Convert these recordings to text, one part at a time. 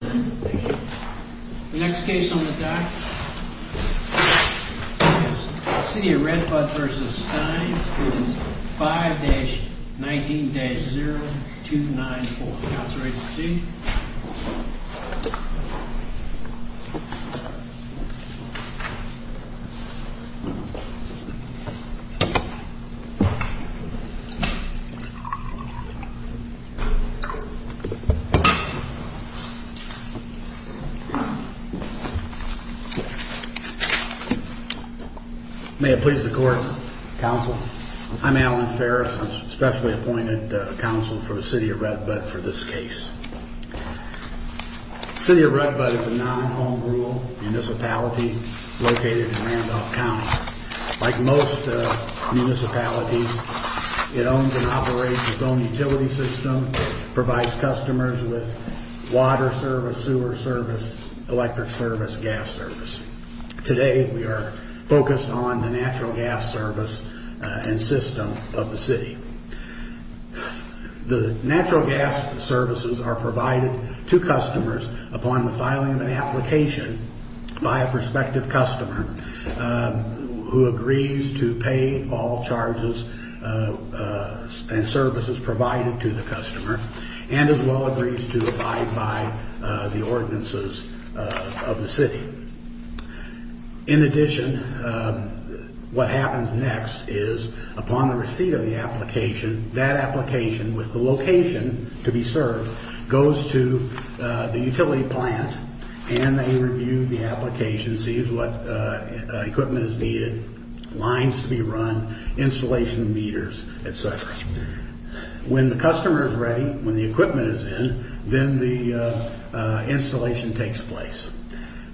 The next case on the dock City of Red Bud v. Stines 5-19-0294 That's right, you see? May it please the court, counsel. I'm Alan Ferris. I'm specially appointed counsel for the City of Red Bud for this case. City of Red Bud is a non-home rule municipality located in Randolph County. Like most municipalities, it owns and operates its own utility system, provides customers with water service, sewer service, electric service, gas service. Today we are focused on the natural gas service and system of the city. The natural gas services are provided to customers upon the filing of an application by a prospective customer who agrees to pay all charges and services provided to the customer and as well agrees to abide by the ordinances of the city. In addition, what happens next is upon the receipt of the application, that application with the location to be served goes to the utility plant and they review the application, see what equipment is needed, lines to be run, installation meters, etc. When the customer is ready, when the equipment is in, then the installation takes place.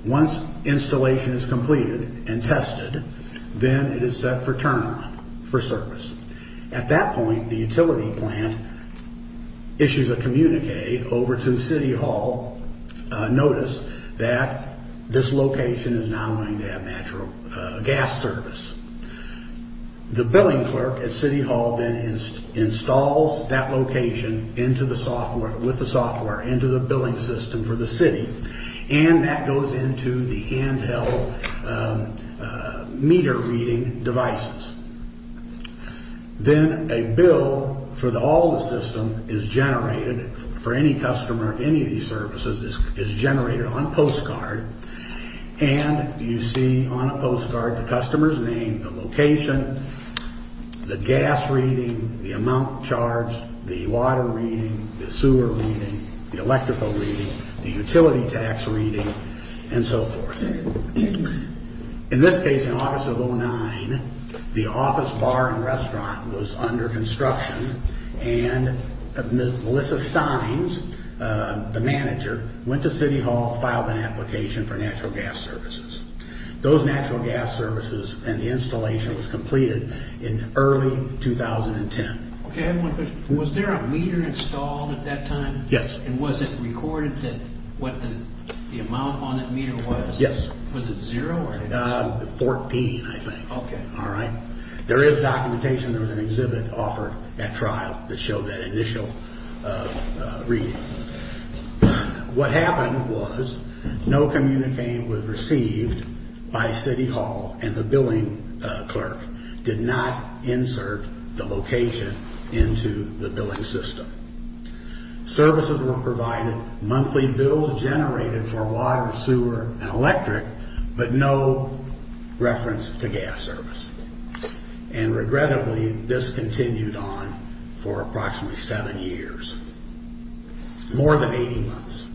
Once installation is completed and tested, then it is set for turn-on for service. At that point, the utility plant issues a communique over to City Hall, notice that this location is now going to have natural gas service. The billing clerk at City Hall then installs that location with the software into the billing system for the city and that goes into the handheld meter reading devices. Then a bill for all the system is generated for any customer of any of these services is generated on postcard and you see on a postcard the customer's name, the location, the gas reading, the amount charged, the water reading, the sewer reading, the electrical reading, the utility tax reading, and so forth. In this case, in August of 2009, the office bar and restaurant was under construction and Melissa Steins, the manager, went to City Hall, filed an application for natural gas services. Those natural gas services and the installation was completed in early 2010. Was there a meter installed at that time? Yes. Was it recorded what the amount on that meter was? Yes. Was it zero? Fourteen, I think. Okay. All right. There is documentation. There was an exhibit offered at trial that showed that initial reading. What happened was no communique was received by City Hall and the billing clerk did not insert the location into the billing system. Services were provided, monthly bills generated for water, sewer, and electric, but no reference to gas service. And regrettably, this continued on for approximately seven years, more than 80 months,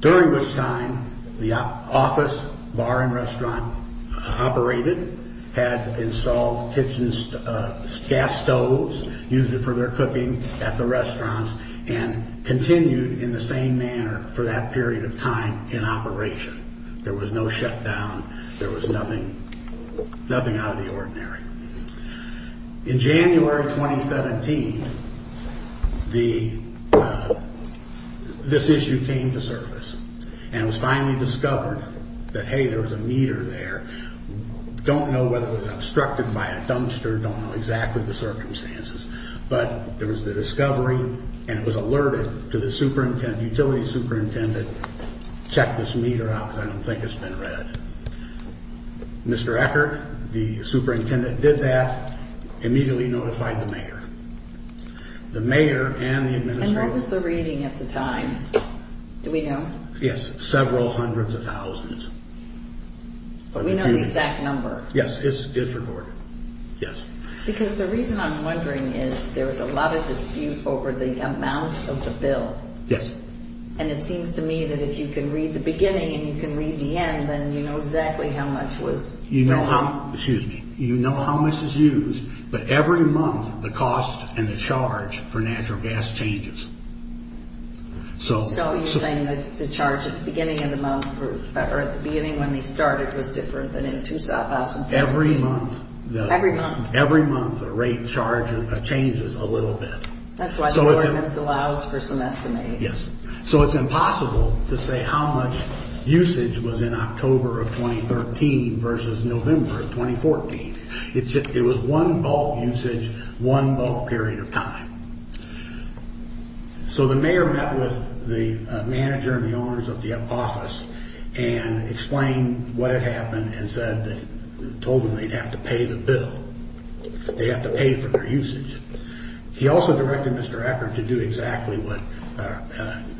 during which time the office bar and restaurant operated, had installed gas stoves, used it for their cooking at the restaurants, and continued in the same manner for that period of time in operation. There was no shutdown. In January 2017, this issue came to surface and it was finally discovered that, hey, there was a meter there. Don't know whether it was obstructed by a dumpster, don't know exactly the circumstances, but there was the discovery and it was alerted to the utility superintendent, check this meter out because I don't think it's been read. Mr. Eckert, the superintendent, did that, immediately notified the mayor. The mayor and the administrator... And what was the reading at the time? Do we know? Yes, several hundreds of thousands. But we know the exact number. Yes, it's recorded, yes. Because the reason I'm wondering is there was a lot of dispute over the amount of the bill. Yes. And it seems to me that if you can read the beginning and you can read the end, then you know exactly how much was... You know how, excuse me, you know how much is used, but every month the cost and the charge for natural gas changes. So are you saying that the charge at the beginning of the month, or at the beginning when they started was different than in 2017? Every month. Every month. Every month the rate charge changes a little bit. That's why the ordinance allows for some estimates. Yes. So it's impossible to say how much usage was in October of 2013 versus November of 2014. It was one bulk usage, one bulk period of time. So the mayor met with the manager and the owners of the office and explained what had happened and told them they'd have to pay the bill. They'd have to pay for their usage. He also directed Mr. Eckert to do exactly what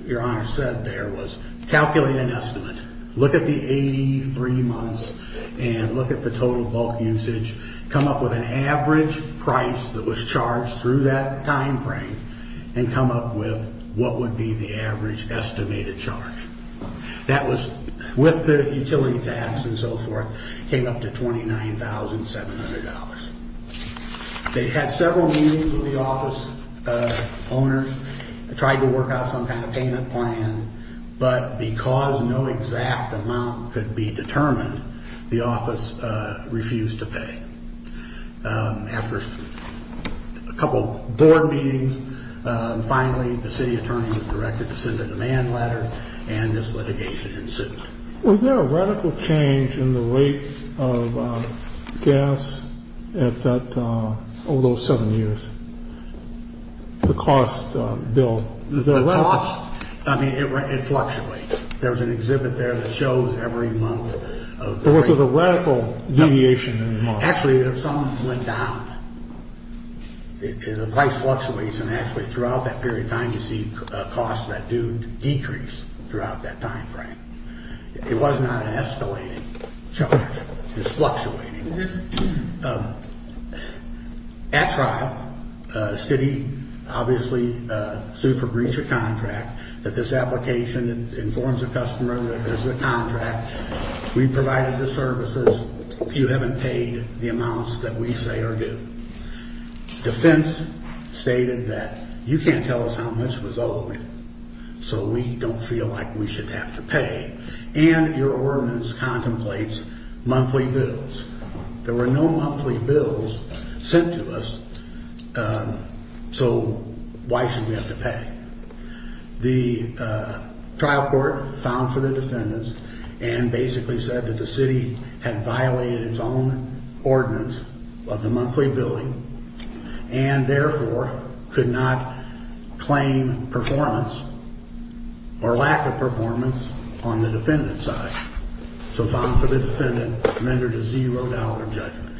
Your Honor said there was calculate an estimate. Look at the 83 months and look at the total bulk usage. Come up with an average price that was charged through that time frame and come up with what would be the average estimated charge. That was, with the utility tax and so forth, came up to $29,700. They had several meetings with the office owners. They tried to work out some kind of payment plan, but because no exact amount could be determined, the office refused to pay. After a couple board meetings, finally the city attorney was directed to send a demand letter and this litigation ensued. Was there a radical change in the rate of gas over those seven years, the cost bill? The cost, I mean, it fluctuates. There was an exhibit there that shows every month. Was there a radical deviation in the cost? Actually, some went down. The price fluctuates and actually throughout that period of time you see costs that do decrease throughout that time frame. It was not an escalating charge. It was fluctuating. At trial, the city obviously sued for breach of contract, that this application informs the customer that there's a contract. We provided the services. You haven't paid the amounts that we say are due. Defense stated that you can't tell us how much was owed, so we don't feel like we should have to pay. And your ordinance contemplates monthly bills. There were no monthly bills sent to us, so why should we have to pay? The trial court found for the defendants and basically said that the city had violated its own ordinance of the monthly billing and therefore could not claim performance or lack of performance on the defendant's side. So found for the defendant rendered a zero dollar judgment.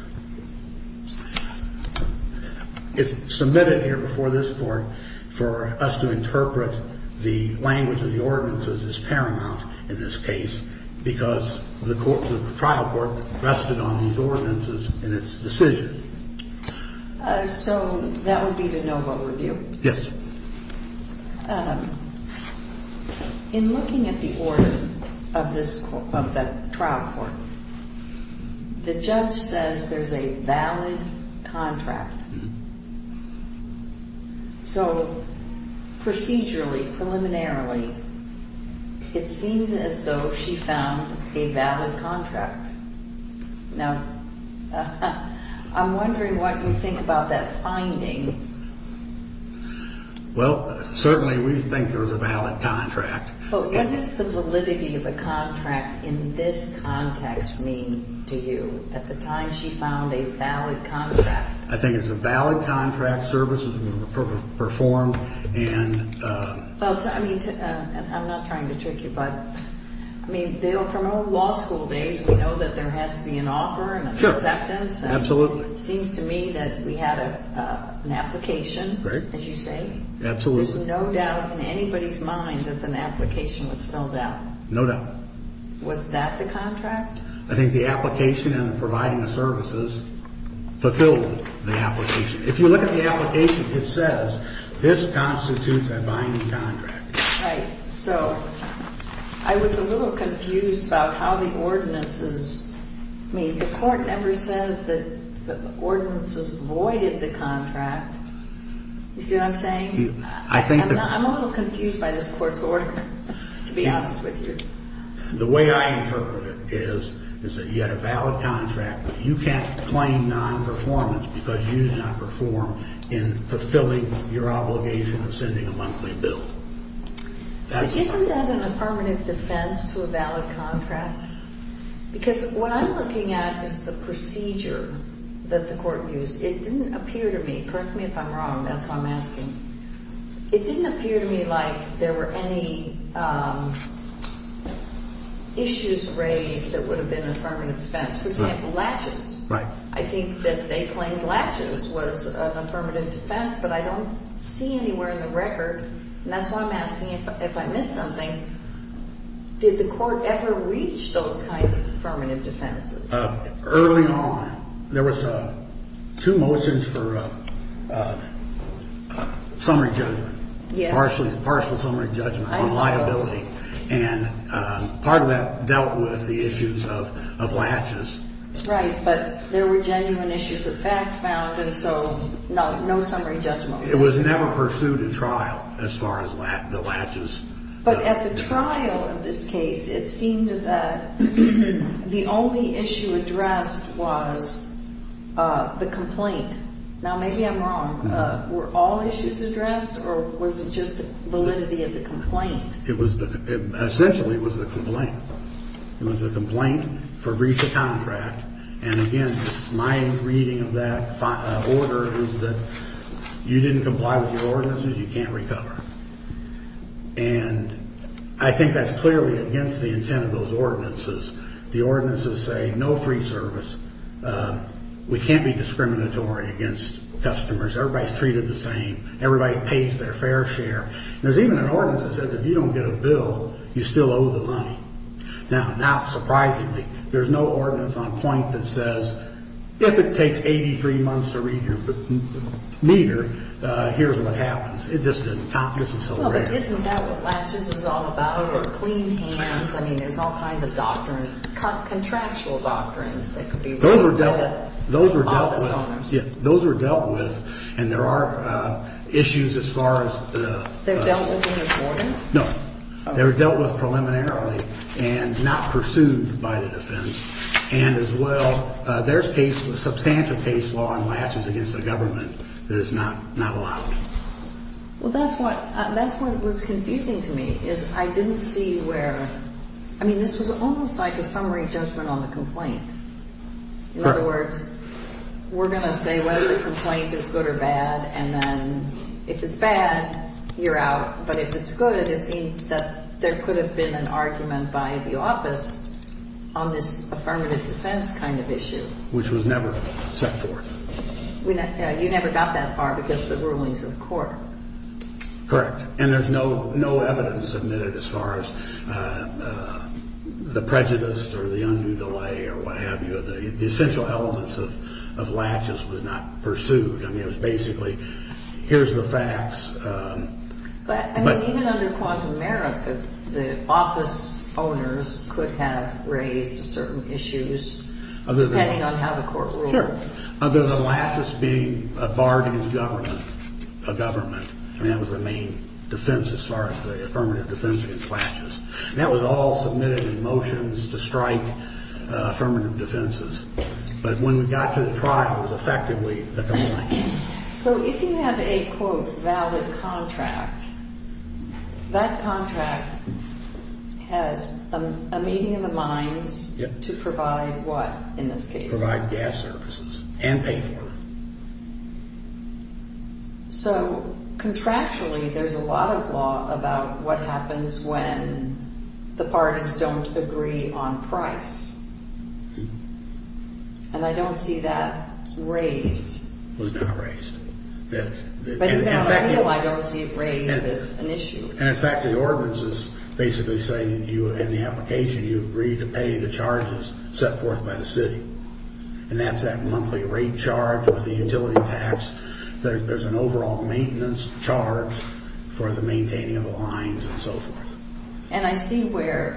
It's submitted here before this court for us to interpret the language of the ordinances as paramount in this case because the trial court rested on these ordinances in its decision. So that would be the no vote review? Yes. In looking at the order of the trial court, the judge says there's a valid contract. So procedurally, preliminarily, it seems as though she found a valid contract. Now, I'm wondering what you think about that finding. Well, certainly we think there's a valid contract. But what does the validity of a contract in this context mean to you at the time she found a valid contract? I think it's a valid contract, services were performed. I'm not trying to trick you, but from our law school days, we know that there has to be an offer and an acceptance. Absolutely. It seems to me that we had an application, as you say. Absolutely. There's no doubt in anybody's mind that an application was filled out. No doubt. Was that the contract? I think the application and providing the services fulfilled the application. If you look at the application, it says this constitutes a binding contract. Right. So I was a little confused about how the ordinances mean. The court never says that the ordinances voided the contract. You see what I'm saying? I think that the court's order, to be honest with you. The way I interpret it is that you had a valid contract, but you can't claim non-performance because you did not perform in fulfilling your obligation of sending a monthly bill. Isn't that a permanent defense to a valid contract? Because what I'm looking at is the procedure that the court used. It didn't appear to me. Correct me if I'm wrong, that's what I'm asking. It didn't appear to me like there were any issues raised that would have been affirmative defense. For example, latches. Right. I think that they claimed latches was an affirmative defense, but I don't see anywhere in the record, and that's why I'm asking if I missed something, did the court ever reach those kinds of affirmative defenses? Early on, there was two motions for summary judgment. Yes. Partial summary judgment on liability. I saw those. And part of that dealt with the issues of latches. Right, but there were genuine issues of fact found, and so no summary judgment. It was never pursued in trial as far as the latches. But at the trial of this case, it seemed that the only issue addressed was the complaint. Now, maybe I'm wrong. Were all issues addressed, or was it just the validity of the complaint? Essentially, it was the complaint. It was the complaint for breach of contract. And, again, my reading of that order is that you didn't comply with your ordinances, you can't recover. And I think that's clearly against the intent of those ordinances. The ordinances say no free service. We can't be discriminatory against customers. Everybody's treated the same. Everybody pays their fair share. There's even an ordinance that says if you don't get a bill, you still owe the money. Now, not surprisingly, there's no ordinance on point that says if it takes 83 months to read your meter, here's what happens. It just isn't so great. Well, but isn't that what latches is all about, or clean hands? I mean, there's all kinds of doctrines, contractual doctrines that could be used. Those were dealt with. Those were dealt with. Yeah, those were dealt with. And there are issues as far as the – They were dealt with in reporting? No. They were dealt with preliminarily and not pursued by the defense. And, as well, there's substantial case law and latches against the government that is not allowed. Well, that's what was confusing to me is I didn't see where – I mean, this was almost like a summary judgment on the complaint. In other words, we're going to say whether the complaint is good or bad, and then if it's bad, you're out. But if it's good, it would seem that there could have been an argument by the office on this affirmative defense kind of issue. Which was never set forth. You never got that far because of the rulings of the court. Correct. And there's no evidence submitted as far as the prejudice or the undue delay or what have you. The essential elements of latches was not pursued. I mean, it was basically here's the facts. But, I mean, even under quantum merit, the office owners could have raised certain issues depending on how the court ruled. Sure. Other than latches being a bargain against government, a government. I mean, that was the main defense as far as the affirmative defense against latches. And that was all submitted in motions to strike affirmative defenses. But when we got to the trial, it was effectively the complaint. So if you have a, quote, valid contract, that contract has a meeting in the minds to provide what in this case? Provide gas services and pay for them. So contractually, there's a lot of law about what happens when the parties don't agree on price. And I don't see that raised. Was not raised. I don't see it raised as an issue. And in fact, the ordinances basically say in the application you agreed to pay the charges set forth by the city. And that's that monthly rate charge with the utility tax. There's an overall maintenance charge for the maintaining of the lines and so forth. And I see where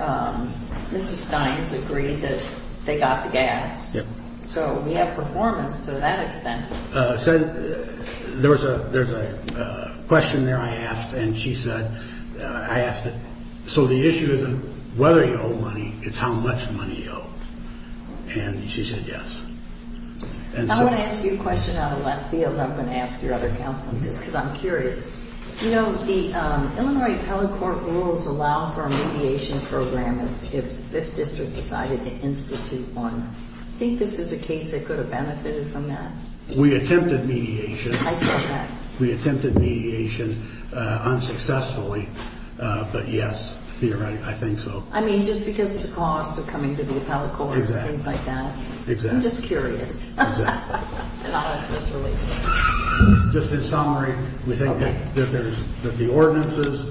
Mrs. Stein's agreed that they got the gas. Yep. So we have performance to that extent. There was a question there I asked. And she said, I asked it, so the issue isn't whether you owe money, it's how much money you owe. And she said yes. I want to ask you a question out of left field. I'm going to ask your other counsel, just because I'm curious. You know, the Illinois appellate court rules allow for a mediation program if the 5th District decided to institute one. I think this is a case that could have benefited from that. We attempted mediation. I said that. We attempted mediation unsuccessfully. But yes, theoretically, I think so. I mean, just because of the cost of coming to the appellate court and things like that. Exactly. I'm just curious. Exactly. And I'll ask Mr. Lee. Just in summary, we think that the ordinances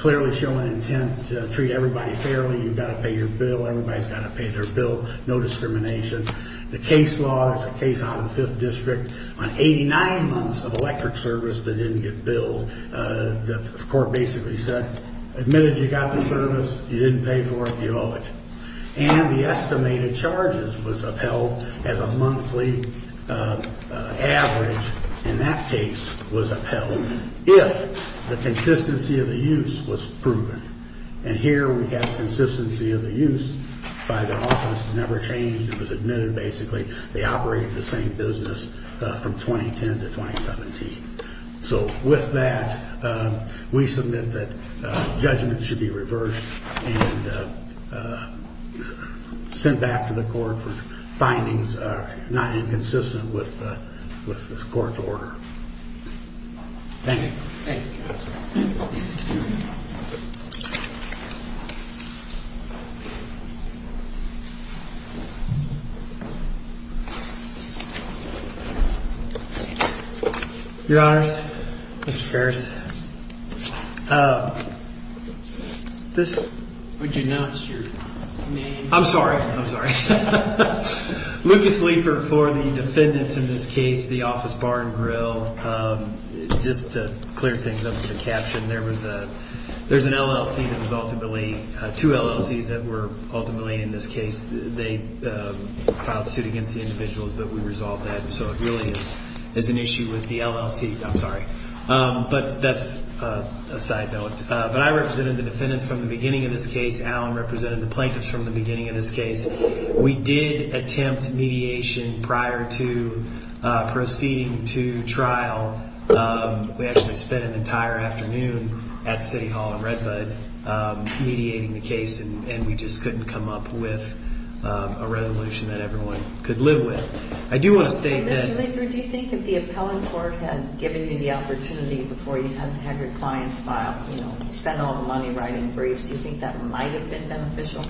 clearly show an intent to treat everybody fairly. You've got to pay your bill. Everybody's got to pay their bill. No discrimination. The case law is a case out of the 5th District. On 89 months of electric service that didn't get billed, the court basically said, admitted you got the service, you didn't pay for it, you owe it. And the estimated charges was upheld as a monthly average in that case was upheld if the consistency of the use was proven. And here we have consistency of the use by the office. It never changed. It was admitted, basically. They operated the same business from 2010 to 2017. So with that, we submit that judgment should be reversed and sent back to the court for findings not inconsistent with the court's order. Thank you. Thank you. Thank you. Your Honors, Mr. Ferris. Would you note your name? I'm sorry. I'm sorry. Lucas Leeper for the defendants in this case, the office bar and grill. Just to clear things up with the caption, there's an LLC that was ultimately, two LLCs that were ultimately in this case. They filed suit against the individuals, but we resolved that. And so it really is an issue with the LLCs. I'm sorry. But that's a side note. But I represented the defendants from the beginning of this case. Alan represented the plaintiffs from the beginning of this case. We did attempt mediation prior to proceeding to trial. We actually spent an entire afternoon at City Hall in Redbud mediating the case, and we just couldn't come up with a resolution that everyone could live with. I do want to state that. Mr. Leeper, do you think if the appellant court had given you the opportunity before you had to have your clients file, you know, spend all the money writing briefs, do you think that might have been beneficial?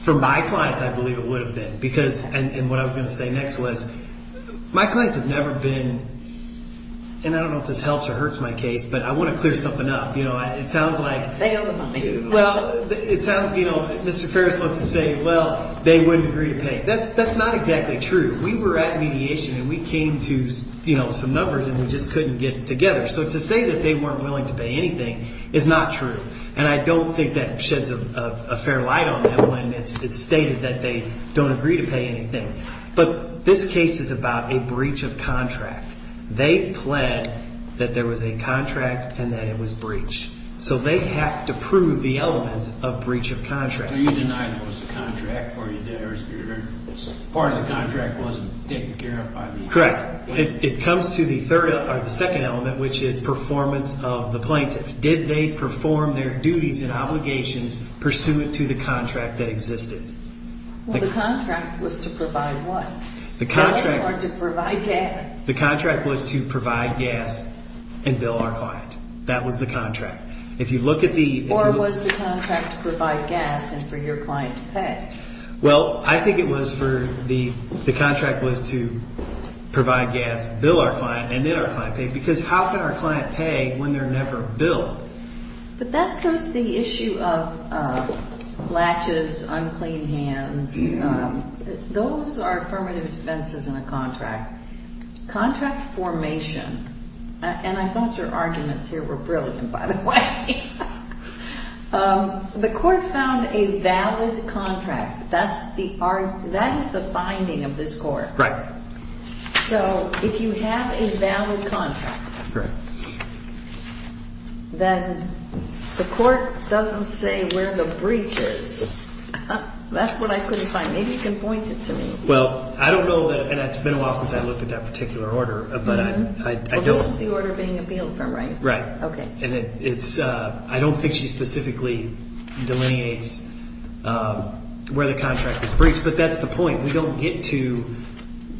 For my clients, I believe it would have been. And what I was going to say next was, my clients have never been – and I don't know if this helps or hurts my case, but I want to clear something up. It sounds like – They owe the money. Well, it sounds – you know, Mr. Ferris loves to say, well, they wouldn't agree to pay. That's not exactly true. We were at mediation, and we came to some numbers, and we just couldn't get it together. So to say that they weren't willing to pay anything is not true. And I don't think that sheds a fair light on them when it's stated that they don't agree to pay anything. But this case is about a breach of contract. They pled that there was a contract and that it was breached. So they have to prove the elements of breach of contract. So you denied there was a contract, or you did – part of the contract wasn't taken care of by the appellant? Correct. It comes to the third – or the second element, which is performance of the plaintiff. Did they perform their duties and obligations pursuant to the contract that existed? Well, the contract was to provide what? The contract – Or to provide gas? The contract was to provide gas and bill our client. That was the contract. If you look at the – Or was the contract to provide gas and for your client to pay? Well, I think it was for the – the contract was to provide gas, bill our client, and then our client paid. Because how can our client pay when they're never billed? But that goes to the issue of latches, unclean hands. Those are affirmative defenses in a contract. Contract formation – and I thought your arguments here were brilliant, by the way. The court found a valid contract. That's the – that is the finding of this court. Right. So if you have a valid contract, then the court doesn't say where the breach is. That's what I couldn't find. Maybe you can point it to me. Well, I don't know that – and it's been a while since I looked at that particular order, but I don't – Well, this is the order being appealed from, right? Right. Okay. And it's – I don't think she specifically delineates where the contract was breached, but that's the point. We don't get to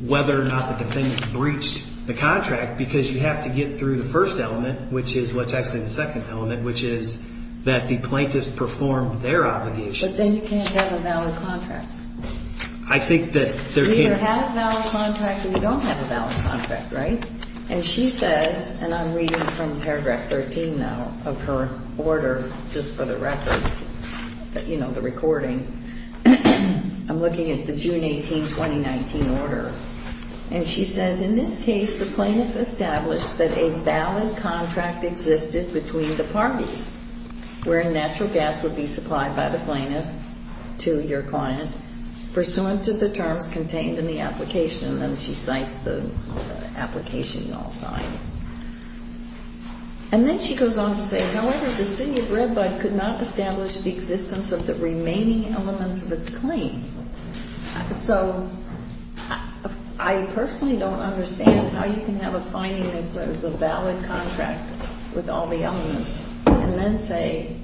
whether or not the defendant breached the contract because you have to get through the first element, which is what's actually the second element, which is that the plaintiff's performed their obligations. But then you can't have a valid contract. I think that there can't – You either have a valid contract or you don't have a valid contract, right? And she says – and I'm reading from paragraph 13 now of her order, just for the record, you know, the recording. I'm looking at the June 18, 2019 order. And she says, In this case, the plaintiff established that a valid contract existed between the parties, wherein natural gas would be supplied by the plaintiff to your client, pursuant to the terms contained in the application. And then she cites the application in all sign. And then she goes on to say, However, the city of Redbud could not establish the existence of the remaining elements of its claim. So I personally don't understand how you can have a finding that there's a valid contract with all the elements and then say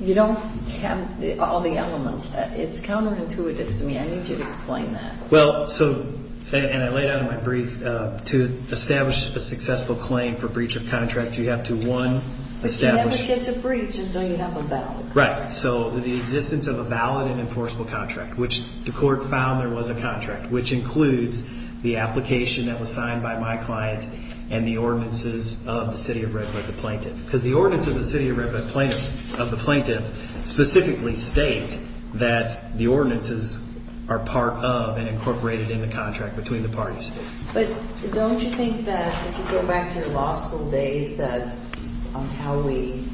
you don't have all the elements. It's counterintuitive to me. I need you to explain that. Well, so – and I laid out in my brief, to establish a successful claim for breach of contract, you have to, one, establish – But you never get to breach until you have a valid contract. Right. So the existence of a valid and enforceable contract, which the court found there was a contract, which includes the application that was signed by my client and the ordinances of the city of Redbud, the plaintiff. Because the ordinances of the city of Redbud plaintiffs – of the plaintiff, specifically state that the ordinances are part of and incorporated in the contract between the parties. But don't you think that if you go back to your law school days on how we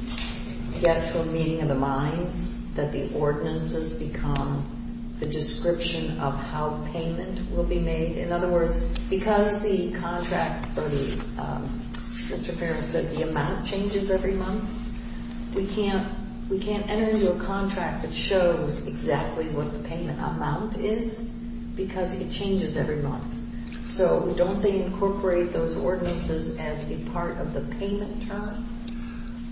get from meeting of the minds, that the ordinances become the description of how payment will be made? In other words, because the contract for the – Mr. Farrell said the amount changes every month. We can't enter into a contract that shows exactly what the payment amount is because it changes every month. So don't they incorporate those ordinances as a part of the payment term?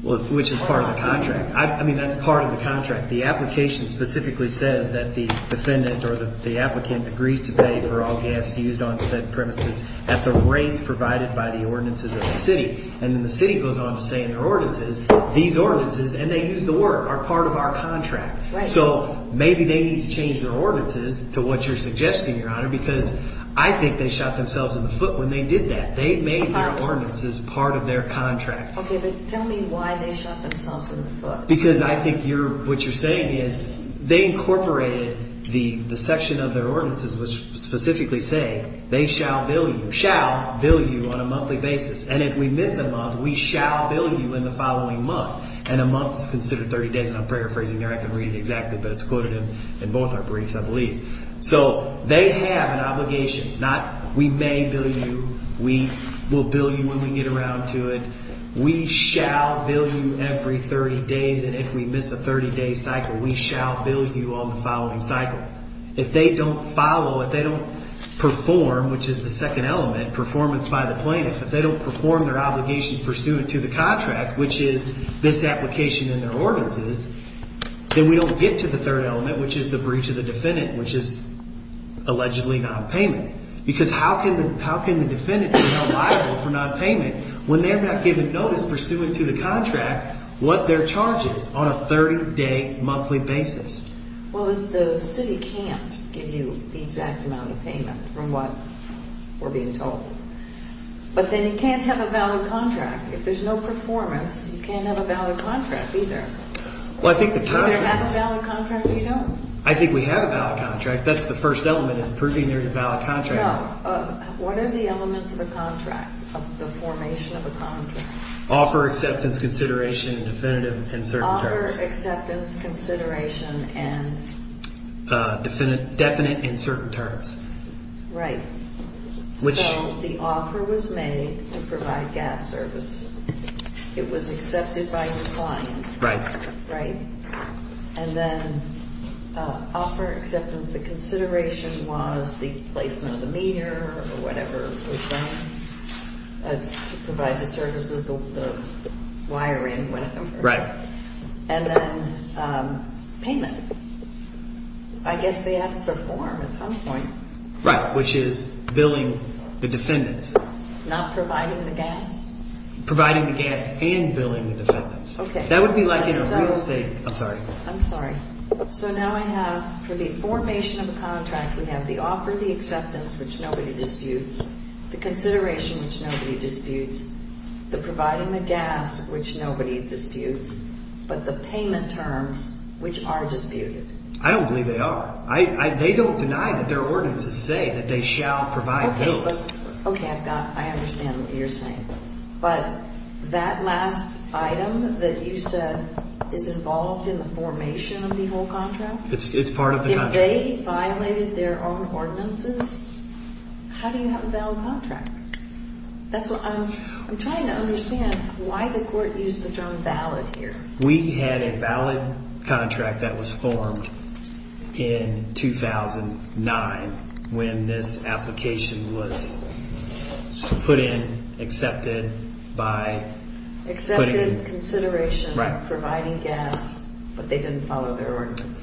Well, which is part of the contract. I mean, that's part of the contract. The application specifically says that the defendant or the applicant agrees to pay for all gas used on said premises at the rates provided by the ordinances of the city. And then the city goes on to say in their ordinances, these ordinances – and they use the word – are part of our contract. Right. So maybe they need to change their ordinances to what you're suggesting, Your Honor, because I think they shot themselves in the foot when they did that. They made their ordinances part of their contract. OK, but tell me why they shot themselves in the foot. Because I think you're – what you're saying is they incorporated the section of their ordinances which specifically say they shall bill you – shall bill you on a monthly basis. And if we miss a month, we shall bill you in the following month. And a month is considered 30 days, and I'm paraphrasing there. I can read it exactly, but it's quoted in both our briefs, I believe. So they have an obligation, not we may bill you, we will bill you when we get around to it. We shall bill you every 30 days, and if we miss a 30-day cycle, we shall bill you on the following cycle. If they don't follow, if they don't perform, which is the second element, performance by the plaintiff, if they don't perform their obligation pursuant to the contract, which is this application in their ordinances, then we don't get to the third element, which is the breach of the defendant, which is allegedly nonpayment. Because how can the defendant be held liable for nonpayment when they're not given notice pursuant to the contract what their charge is on a 30-day monthly basis? Well, the city can't give you the exact amount of payment from what we're being told. But then you can't have a valid contract. If there's no performance, you can't have a valid contract either. You either have a valid contract or you don't. I think we have a valid contract. That's the first element in proving there's a valid contract. No, what are the elements of a contract, of the formation of a contract? Offer, acceptance, consideration, and definitive in certain terms. Offer, acceptance, consideration, and? Definite in certain terms. Right. So the offer was made to provide gas service. It was accepted by your client. Right. Right. And then offer, acceptance, the consideration was the placement of the meter or whatever was done to provide the services, the wiring, whatever. Right. And then payment. I guess they have to perform at some point. Right, which is billing the defendants. Not providing the gas? Providing the gas and billing the defendants. Okay. That would be like in a real estate. I'm sorry. I'm sorry. So now I have, for the formation of a contract, we have the offer, the acceptance, which nobody disputes, the consideration, which nobody disputes, the providing the gas, which nobody disputes, but the payment terms, which are disputed. I don't believe they are. They don't deny that their ordinances say that they shall provide bills. Okay. I understand what you're saying. But that last item that you said is involved in the formation of the whole contract? It's part of the contract. If they violated their own ordinances, how do you have a valid contract? I'm trying to understand why the court used the term valid here. We had a valid contract that was formed in 2009 when this application was put in, accepted by... Accepted consideration of providing gas, but they didn't follow their ordinance.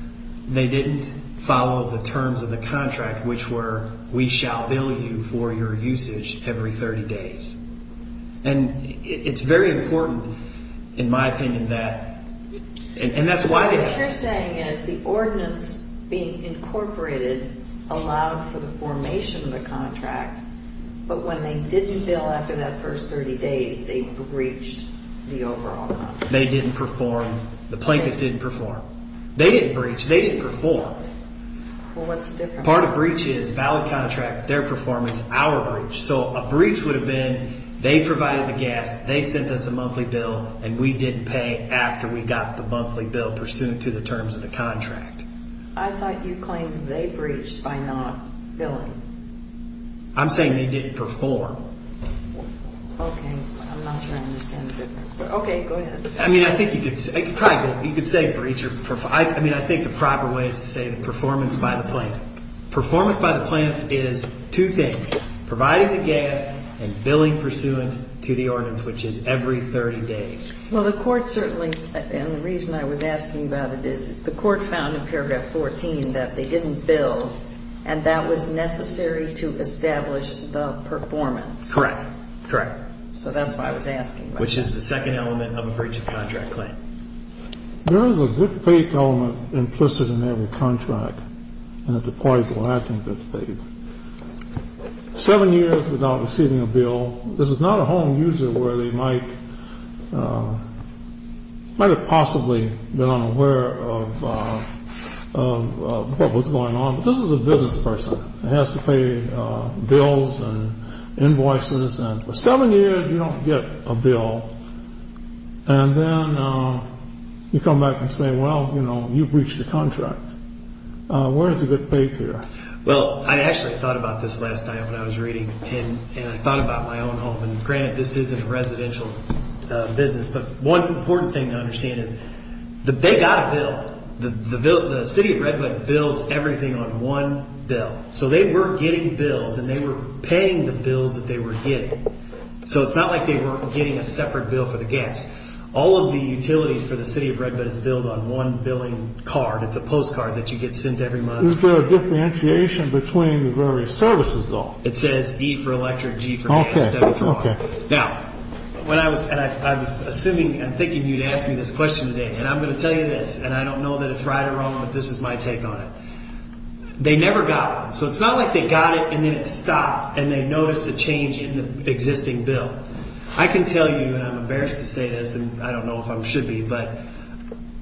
They didn't follow the terms of the contract, which were we shall bill you for your usage every 30 days. And it's very important, in my opinion, that... And that's why they... So what you're saying is the ordinance being incorporated allowed for the formation of the contract, but when they didn't bill after that first 30 days, they breached the overall contract. They didn't perform. The plaintiffs didn't perform. They didn't breach. They didn't perform. Well, what's different? Part of breach is valid contract, their performance, our breach. So a breach would have been they provided the gas, they sent us a monthly bill, and we didn't pay after we got the monthly bill pursuant to the terms of the contract. I thought you claimed they breached by not billing. I'm saying they didn't perform. Okay. I'm not sure I understand the difference. Okay, go ahead. I mean, I think you could... You could say breach or... I mean, I think the proper way is to say the performance by the plaintiff. Performance by the plaintiff is two things, providing the gas and billing pursuant to the ordinance, which is every 30 days. Well, the court certainly, and the reason I was asking about it is the court found in paragraph 14 that they didn't bill, and that was necessary to establish the performance. Correct. Correct. So that's why I was asking. Which is the second element of a breach of contract claim. There is a good faith element implicit in every contract, and it's a quite blatant faith. Seven years without receiving a bill, this is not a home user where they might have possibly been unaware of what was going on, but this is a business person that has to pay bills and invoices, and for seven years you don't get a bill. And then you come back and say, well, you know, you breached the contract. Where is the good faith here? Well, I actually thought about this last night when I was reading, and I thought about my own home. And granted, this isn't a residential business, but one important thing to understand is that they got a bill. The city of Redwood bills everything on one bill. So they were getting bills, and they were paying the bills that they were getting. So it's not like they were getting a separate bill for the gas. All of the utilities for the city of Redwood is billed on one billing card. It's a postcard that you get sent every month. Is there a differentiation between the various services, though? It says E for electric, G for gas, W for water. Now, when I was – and I was assuming and thinking you'd ask me this question today, and I'm going to tell you this, and I don't know that it's right or wrong, but this is my take on it. They never got it. So it's not like they got it, and then it stopped, and they noticed a change in the existing bill. I can tell you, and I'm embarrassed to say this, and I don't know if I should be, but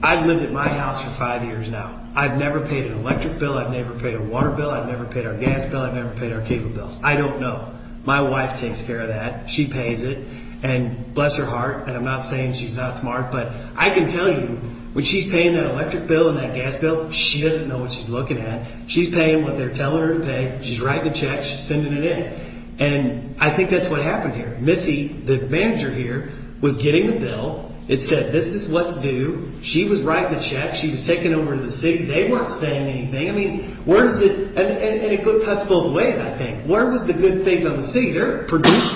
I've lived at my house for five years now. I've never paid an electric bill. I've never paid a water bill. I've never paid our gas bill. I've never paid our cable bills. I don't know. My wife takes care of that. She pays it, and bless her heart, and I'm not saying she's not smart, but I can tell you when she's paying that electric bill and that gas bill, she doesn't know what she's looking at. She's paying what they're telling her to pay. She's writing the check. She's sending it in, and I think that's what happened here. Missy, the manager here, was getting the bill. It said this is what's due. She was writing the check. She was taking it over to the city. They weren't saying anything. I mean where is it? And it cuts both ways, I think. Where was the good thing on the city? They're produced.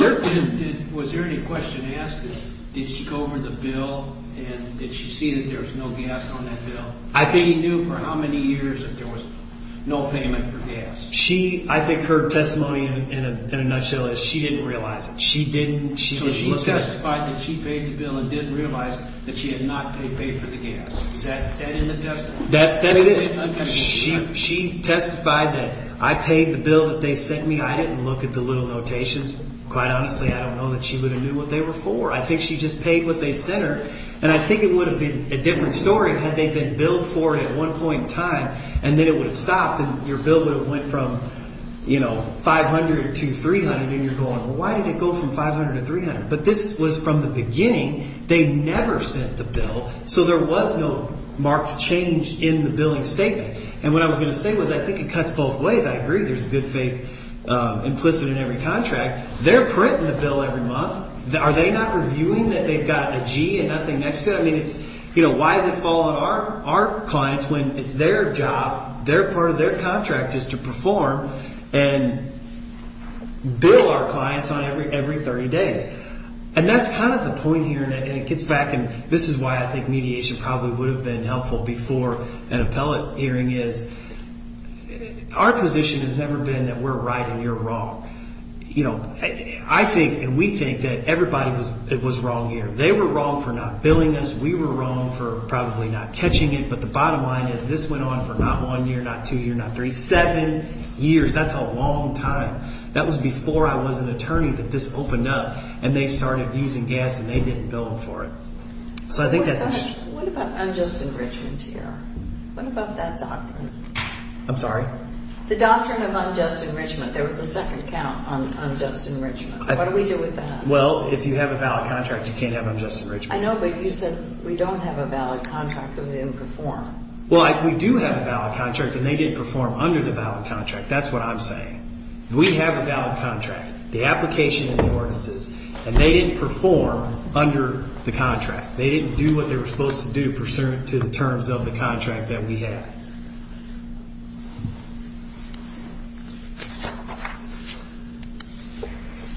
Was there any question asked? Did she go over the bill, and did she see that there was no gas on that bill? She knew for how many years that there was no payment for gas. I think her testimony in a nutshell is she didn't realize it. She didn't. She testified that she paid the bill and didn't realize that she had not paid for the gas. Is that in the testimony? That's it. She testified that I paid the bill that they sent me. I didn't look at the little notations. Quite honestly, I don't know that she would have knew what they were for. I think she just paid what they sent her, and I think it would have been a different story had they been billed for it at one point in time, and then it would have stopped, and your bill would have went from $500 to $300, and you're going, well, why did it go from $500 to $300? But this was from the beginning. They never sent the bill, so there was no marked change in the billing statement. And what I was going to say was I think it cuts both ways. I agree there's good faith implicit in every contract. They're printing the bill every month. Are they not reviewing that they've got a G and nothing next to it? Why does it fall on our clients when it's their job, part of their contract, is to perform and bill our clients every 30 days? And that's kind of the point here, and it gets back, and this is why I think mediation probably would have been helpful before an appellate hearing is our position has never been that we're right and you're wrong. I think and we think that everybody was wrong here. They were wrong for not billing us. We were wrong for probably not catching it. But the bottom line is this went on for not one year, not two years, not three, seven years. That's a long time. That was before I was an attorney that this opened up, and they started using gas and they didn't bill them for it. So I think that's a… What about unjust enrichment here? What about that doctrine? I'm sorry? The doctrine of unjust enrichment. There was a second count on unjust enrichment. What do we do with that? Well, if you have a valid contract, you can't have unjust enrichment. I know, but you said we don't have a valid contract because it didn't perform. Well, we do have a valid contract, and they didn't perform under the valid contract. That's what I'm saying. We have a valid contract, the application and the ordinances, and they didn't perform under the contract. They didn't do what they were supposed to do pursuant to the terms of the contract that we have.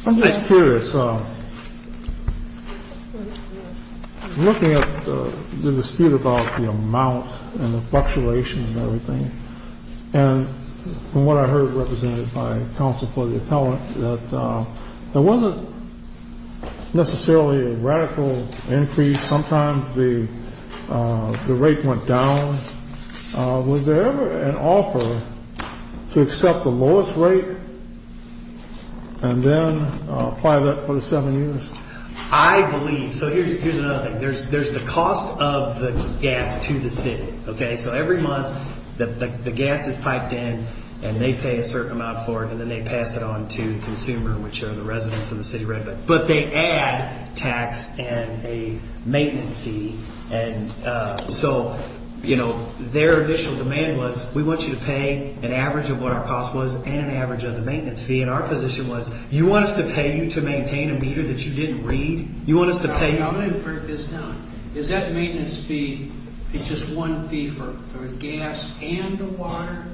I'm just curious, looking at the dispute about the amount and the fluctuation and everything, and from what I heard represented by counsel for the appellant, that there wasn't necessarily a radical increase. Sometimes the rate went down. Was there ever an offer to accept the lowest rate and then apply that for the seven years? I believe. So here's another thing. There's the cost of the gas to the city. So every month the gas is piped in, and they pay a certain amount for it, and then they pass it on to the consumer, which are the residents of the city. But they add tax and a maintenance fee. So their initial demand was, we want you to pay an average of what our cost was and an average of the maintenance fee, and our position was, you want us to pay you to maintain a meter that you didn't read? I'm going to break this down. Is that maintenance fee just one fee for gas and the water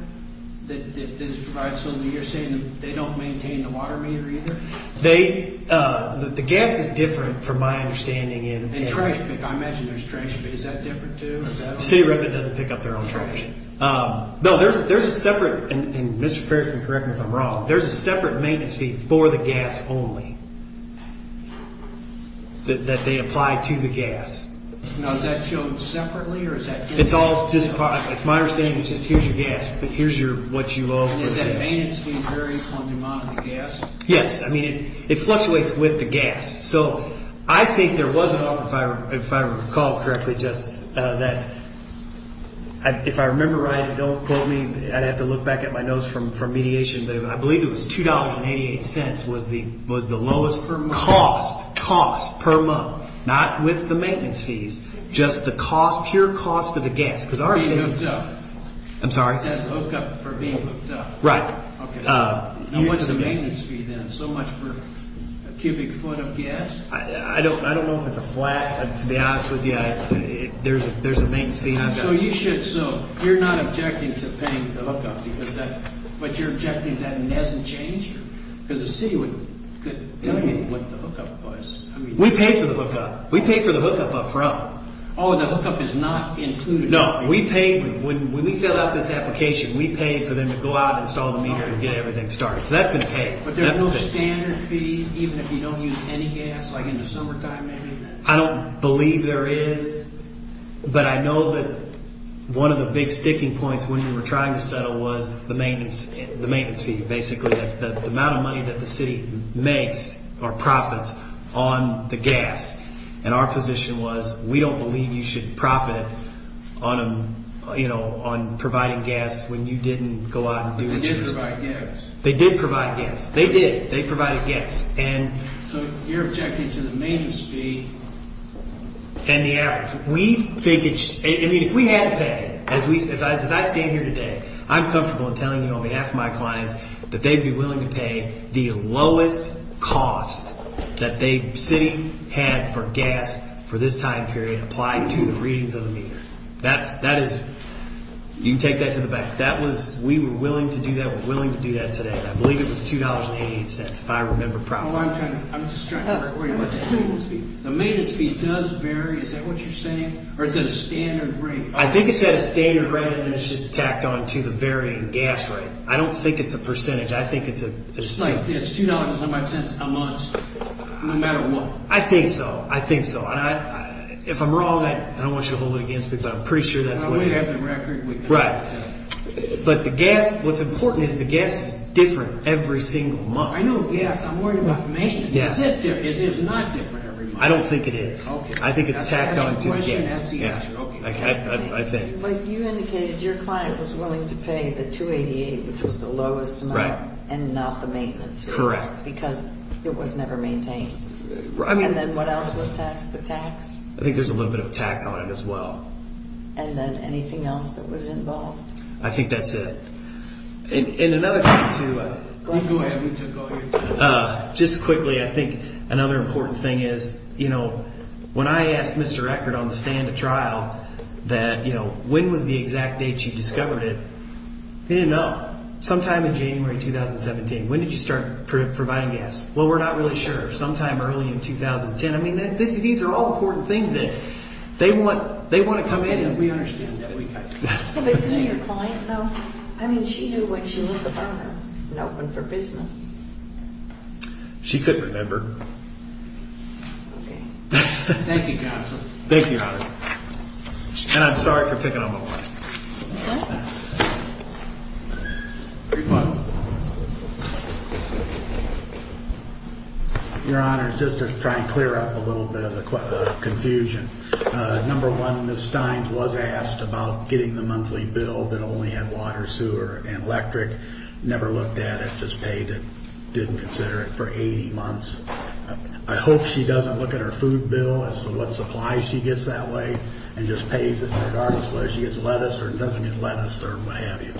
that is provided? So you're saying they don't maintain the water meter either? The gas is different from my understanding. And I imagine there's trash, but is that different, too? The city of Redmond doesn't pick up their own trash. No, there's a separate, and Mr. Ferris can correct me if I'm wrong, there's a separate maintenance fee for the gas only that they apply to the gas. Now, is that shown separately or is that different? It's all just a product. My understanding is just here's your gas, but here's what you owe for the gas. And is that maintenance fee very on demand for the gas? Yes. I mean, it fluctuates with the gas. So I think there was an offer, if I recall correctly, Justice, that if I remember right, and don't quote me, I'd have to look back at my notes from mediation, but I believe it was $2.88 was the lowest cost, cost per month, not with the maintenance fees, just the cost, pure cost of the gas. For being hooked up. I'm sorry? For being hooked up. Right. Now, what's the maintenance fee then? So much for a cubic foot of gas? I don't know if it's a flat. To be honest with you, there's a maintenance fee I've got. So you're not objecting to paying the hookup, but you're objecting that it hasn't changed? Because the city could tell you what the hookup was. We pay for the hookup. We pay for the hookup up front. Oh, the hookup is not included? No. When we fill out this application, we pay for them to go out and install the meter and get everything started. So that's been paid. But there's no standard fee, even if you don't use any gas, like in the summertime maybe? I don't believe there is, but I know that one of the big sticking points when we were trying to settle was the maintenance fee, basically, the amount of money that the city makes or profits on the gas. And our position was we don't believe you should profit on providing gas when you didn't go out and do what you were supposed to. They did provide gas. They did provide gas. They did. They provided gas. So you're objecting to the maintenance fee? And the average. If we had to pay, as I stand here today, I'm comfortable in telling you on behalf of my clients that they'd be willing to pay the lowest cost that the city had for gas for this time period applied to the readings of the meter. You can take that to the back. We were willing to do that. We're willing to do that today, and I believe it was $2.88 if I remember properly. I'm just trying to figure out what you're saying. The maintenance fee does vary. Is that what you're saying? Or is it a standard rate? I think it's at a standard rate, and it's just tacked on to the varying gas rate. I don't think it's a percentage. I think it's a standard. It's $2.08 a month, no matter what? I think so. I think so. If I'm wrong, I don't want you to hold it against me, but I'm pretty sure that's what it is. We have the record. Right. But the gas, what's important is the gas is different every single month. I know gas. I'm worried about the maintenance. Is it different? It is not different every month. I don't think it is. I think it's tacked on to the gas. That's the answer. I think. You indicated your client was willing to pay the $2.88, which was the lowest amount, and not the maintenance fee. Correct. Because it was never maintained. And then what else was taxed? The tax? I think there's a little bit of tax on it as well. And then anything else that was involved? I think that's it. And another thing, too. Go ahead. We took all your time. Just quickly, I think another important thing is, you know, when I asked Mr. Eckert on the stand at trial that, you know, when was the exact date she discovered it, he didn't know. Sometime in January 2017. When did you start providing gas? Well, we're not really sure. Sometime early in 2010. I mean, these are all important things that they want to come in. We understand that. But didn't your client know? I mean, she knew when she lit the burner and opened for business. She couldn't remember. Okay. Thank you, Counselor. Thank you, Honor. And I'm sorry for picking on my wife. Okay. Your Honor, just to try and clear up a little bit of the confusion, number one, Ms. Steins was asked about getting the monthly bill that only had water, sewer, and electric. Never looked at it. Just paid and didn't consider it for 80 months. I hope she doesn't look at her food bill as to what supplies she gets that way and just pays it regardless of whether she gets lettuce or doesn't get lettuce or what have you.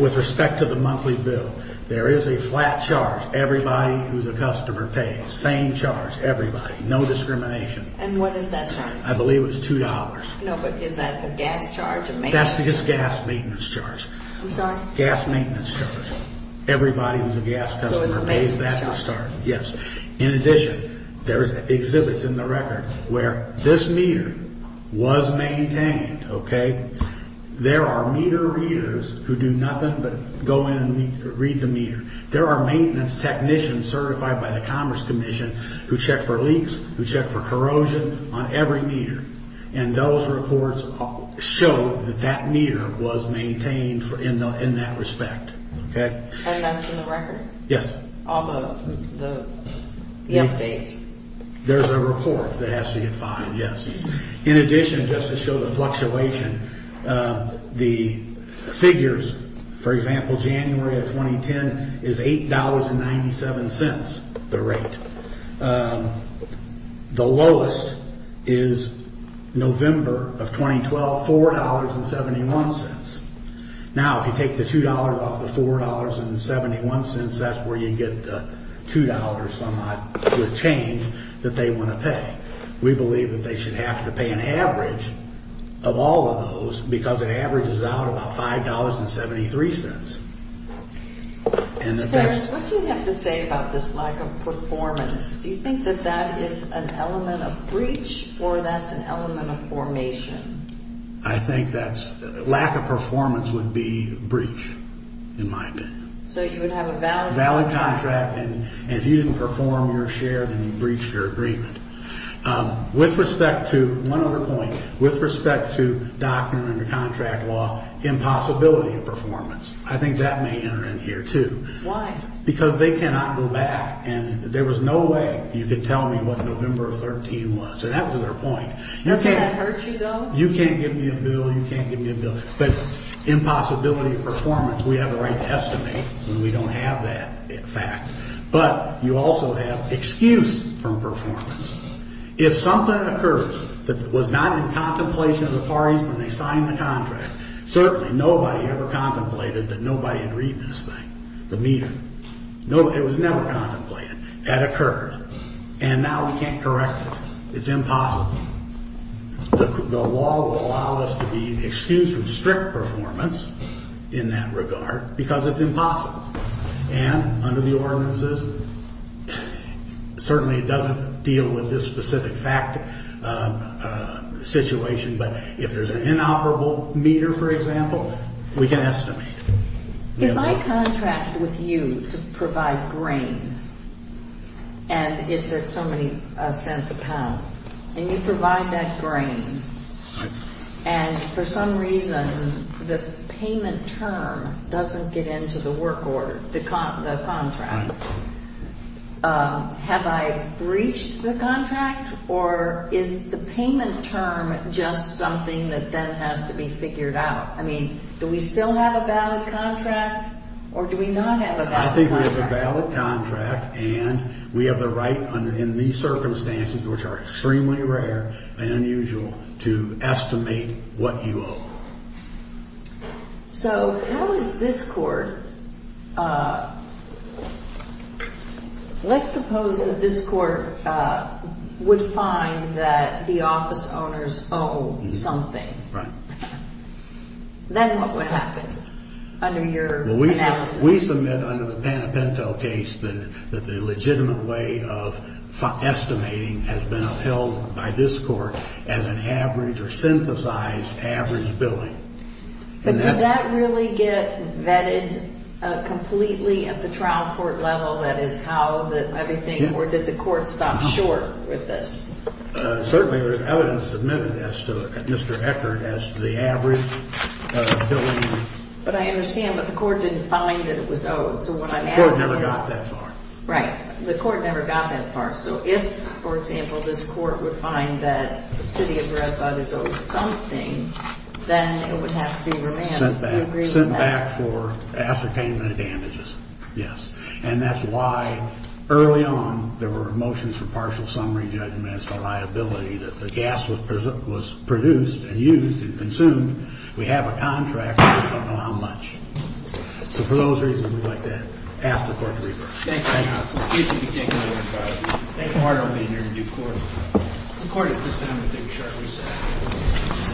With respect to the monthly bill, there is a flat charge. Everybody who's a customer pays. Same charge. Everybody. No discrimination. And what is that charge? I believe it was $2. No, but is that a gas charge? That's just gas maintenance charge. Gas maintenance charge. Everybody who's a gas customer pays that to start. So it's a maintenance charge. Yes. In addition, there's exhibits in the record where this meter was maintained, okay? There are meter readers who do nothing but go in and read the meter. There are maintenance technicians certified by the Commerce Commission who check for leaks, who check for corrosion on every meter. And those reports show that that meter was maintained in that respect. Okay. And that's in the record? Yes. All the updates? There's a report that has to get filed, yes. In addition, just to show the fluctuation, the figures, for example, January of 2010 is $8.97, the rate. The lowest is November of 2012, $4.71. Now, if you take the $2 off the $4.71, that's where you get the $2 some odd with change that they want to pay. We believe that they should have to pay an average of all of those because it averages out about $5.73. Mr. Ferris, what do you have to say about this lack of performance? Do you think that that is an element of breach or that's an element of formation? I think that's lack of performance would be breach in my opinion. So you would have a valid contract. And if you didn't perform your share, then you breached your agreement. With respect to, one other point, with respect to doctrine under contract law, impossibility of performance. I think that may enter in here, too. Why? Because they cannot go back. And there was no way you could tell me what November of 2013 was. And that was their point. Does that hurt you, though? You can't give me a bill, you can't give me a bill. But impossibility of performance, we have the right to estimate when we don't have that fact. But you also have excuse from performance. If something occurs that was not in contemplation of the parties when they signed the contract, certainly nobody ever contemplated that nobody had read this thing, the meter. It was never contemplated. That occurred. And now we can't correct it. It's impossible. The law will allow us to be excused from strict performance in that regard because it's impossible. And under the ordinances, certainly it doesn't deal with this specific fact situation, but if there's an inoperable meter, for example, we can estimate. If I contract with you to provide grain, and it's at so many cents a pound, and you provide that grain, and for some reason the payment term doesn't get into the work order, the contract, have I breached the contract, or is the payment term just something that then has to be figured out? I mean, do we still have a valid contract, or do we not have a valid contract? And we have the right in these circumstances, which are extremely rare and unusual, to estimate what you owe. So how is this court? Let's suppose that this court would find that the office owners owe something. Right. Then what would happen under your analysis? If we submit under the Panepinto case that the legitimate way of estimating has been upheld by this court as an average or synthesized average billing. But did that really get vetted completely at the trial court level? That is, how did everything work? Did the court stop short with this? Certainly, there's evidence submitted as to it, Mr. Eckert, as to the average billing. But I understand, but the court didn't find that it was owed. The court never got that far. Right. The court never got that far. So if, for example, this court would find that the city of Red Bug is owed something, then it would have to be revamped. Sent back for ascertainment of damages, yes. And that's why early on there were motions for partial summary judgments for liability that the gas was produced and used and consumed. We have a contract. We just don't know how much. So for those reasons, we'd like to ask the court to reverse. Thank you, counsel. Excuse me. Take my word for it. Thank you. I'll be in here in due course. The court at this time will take a short recess.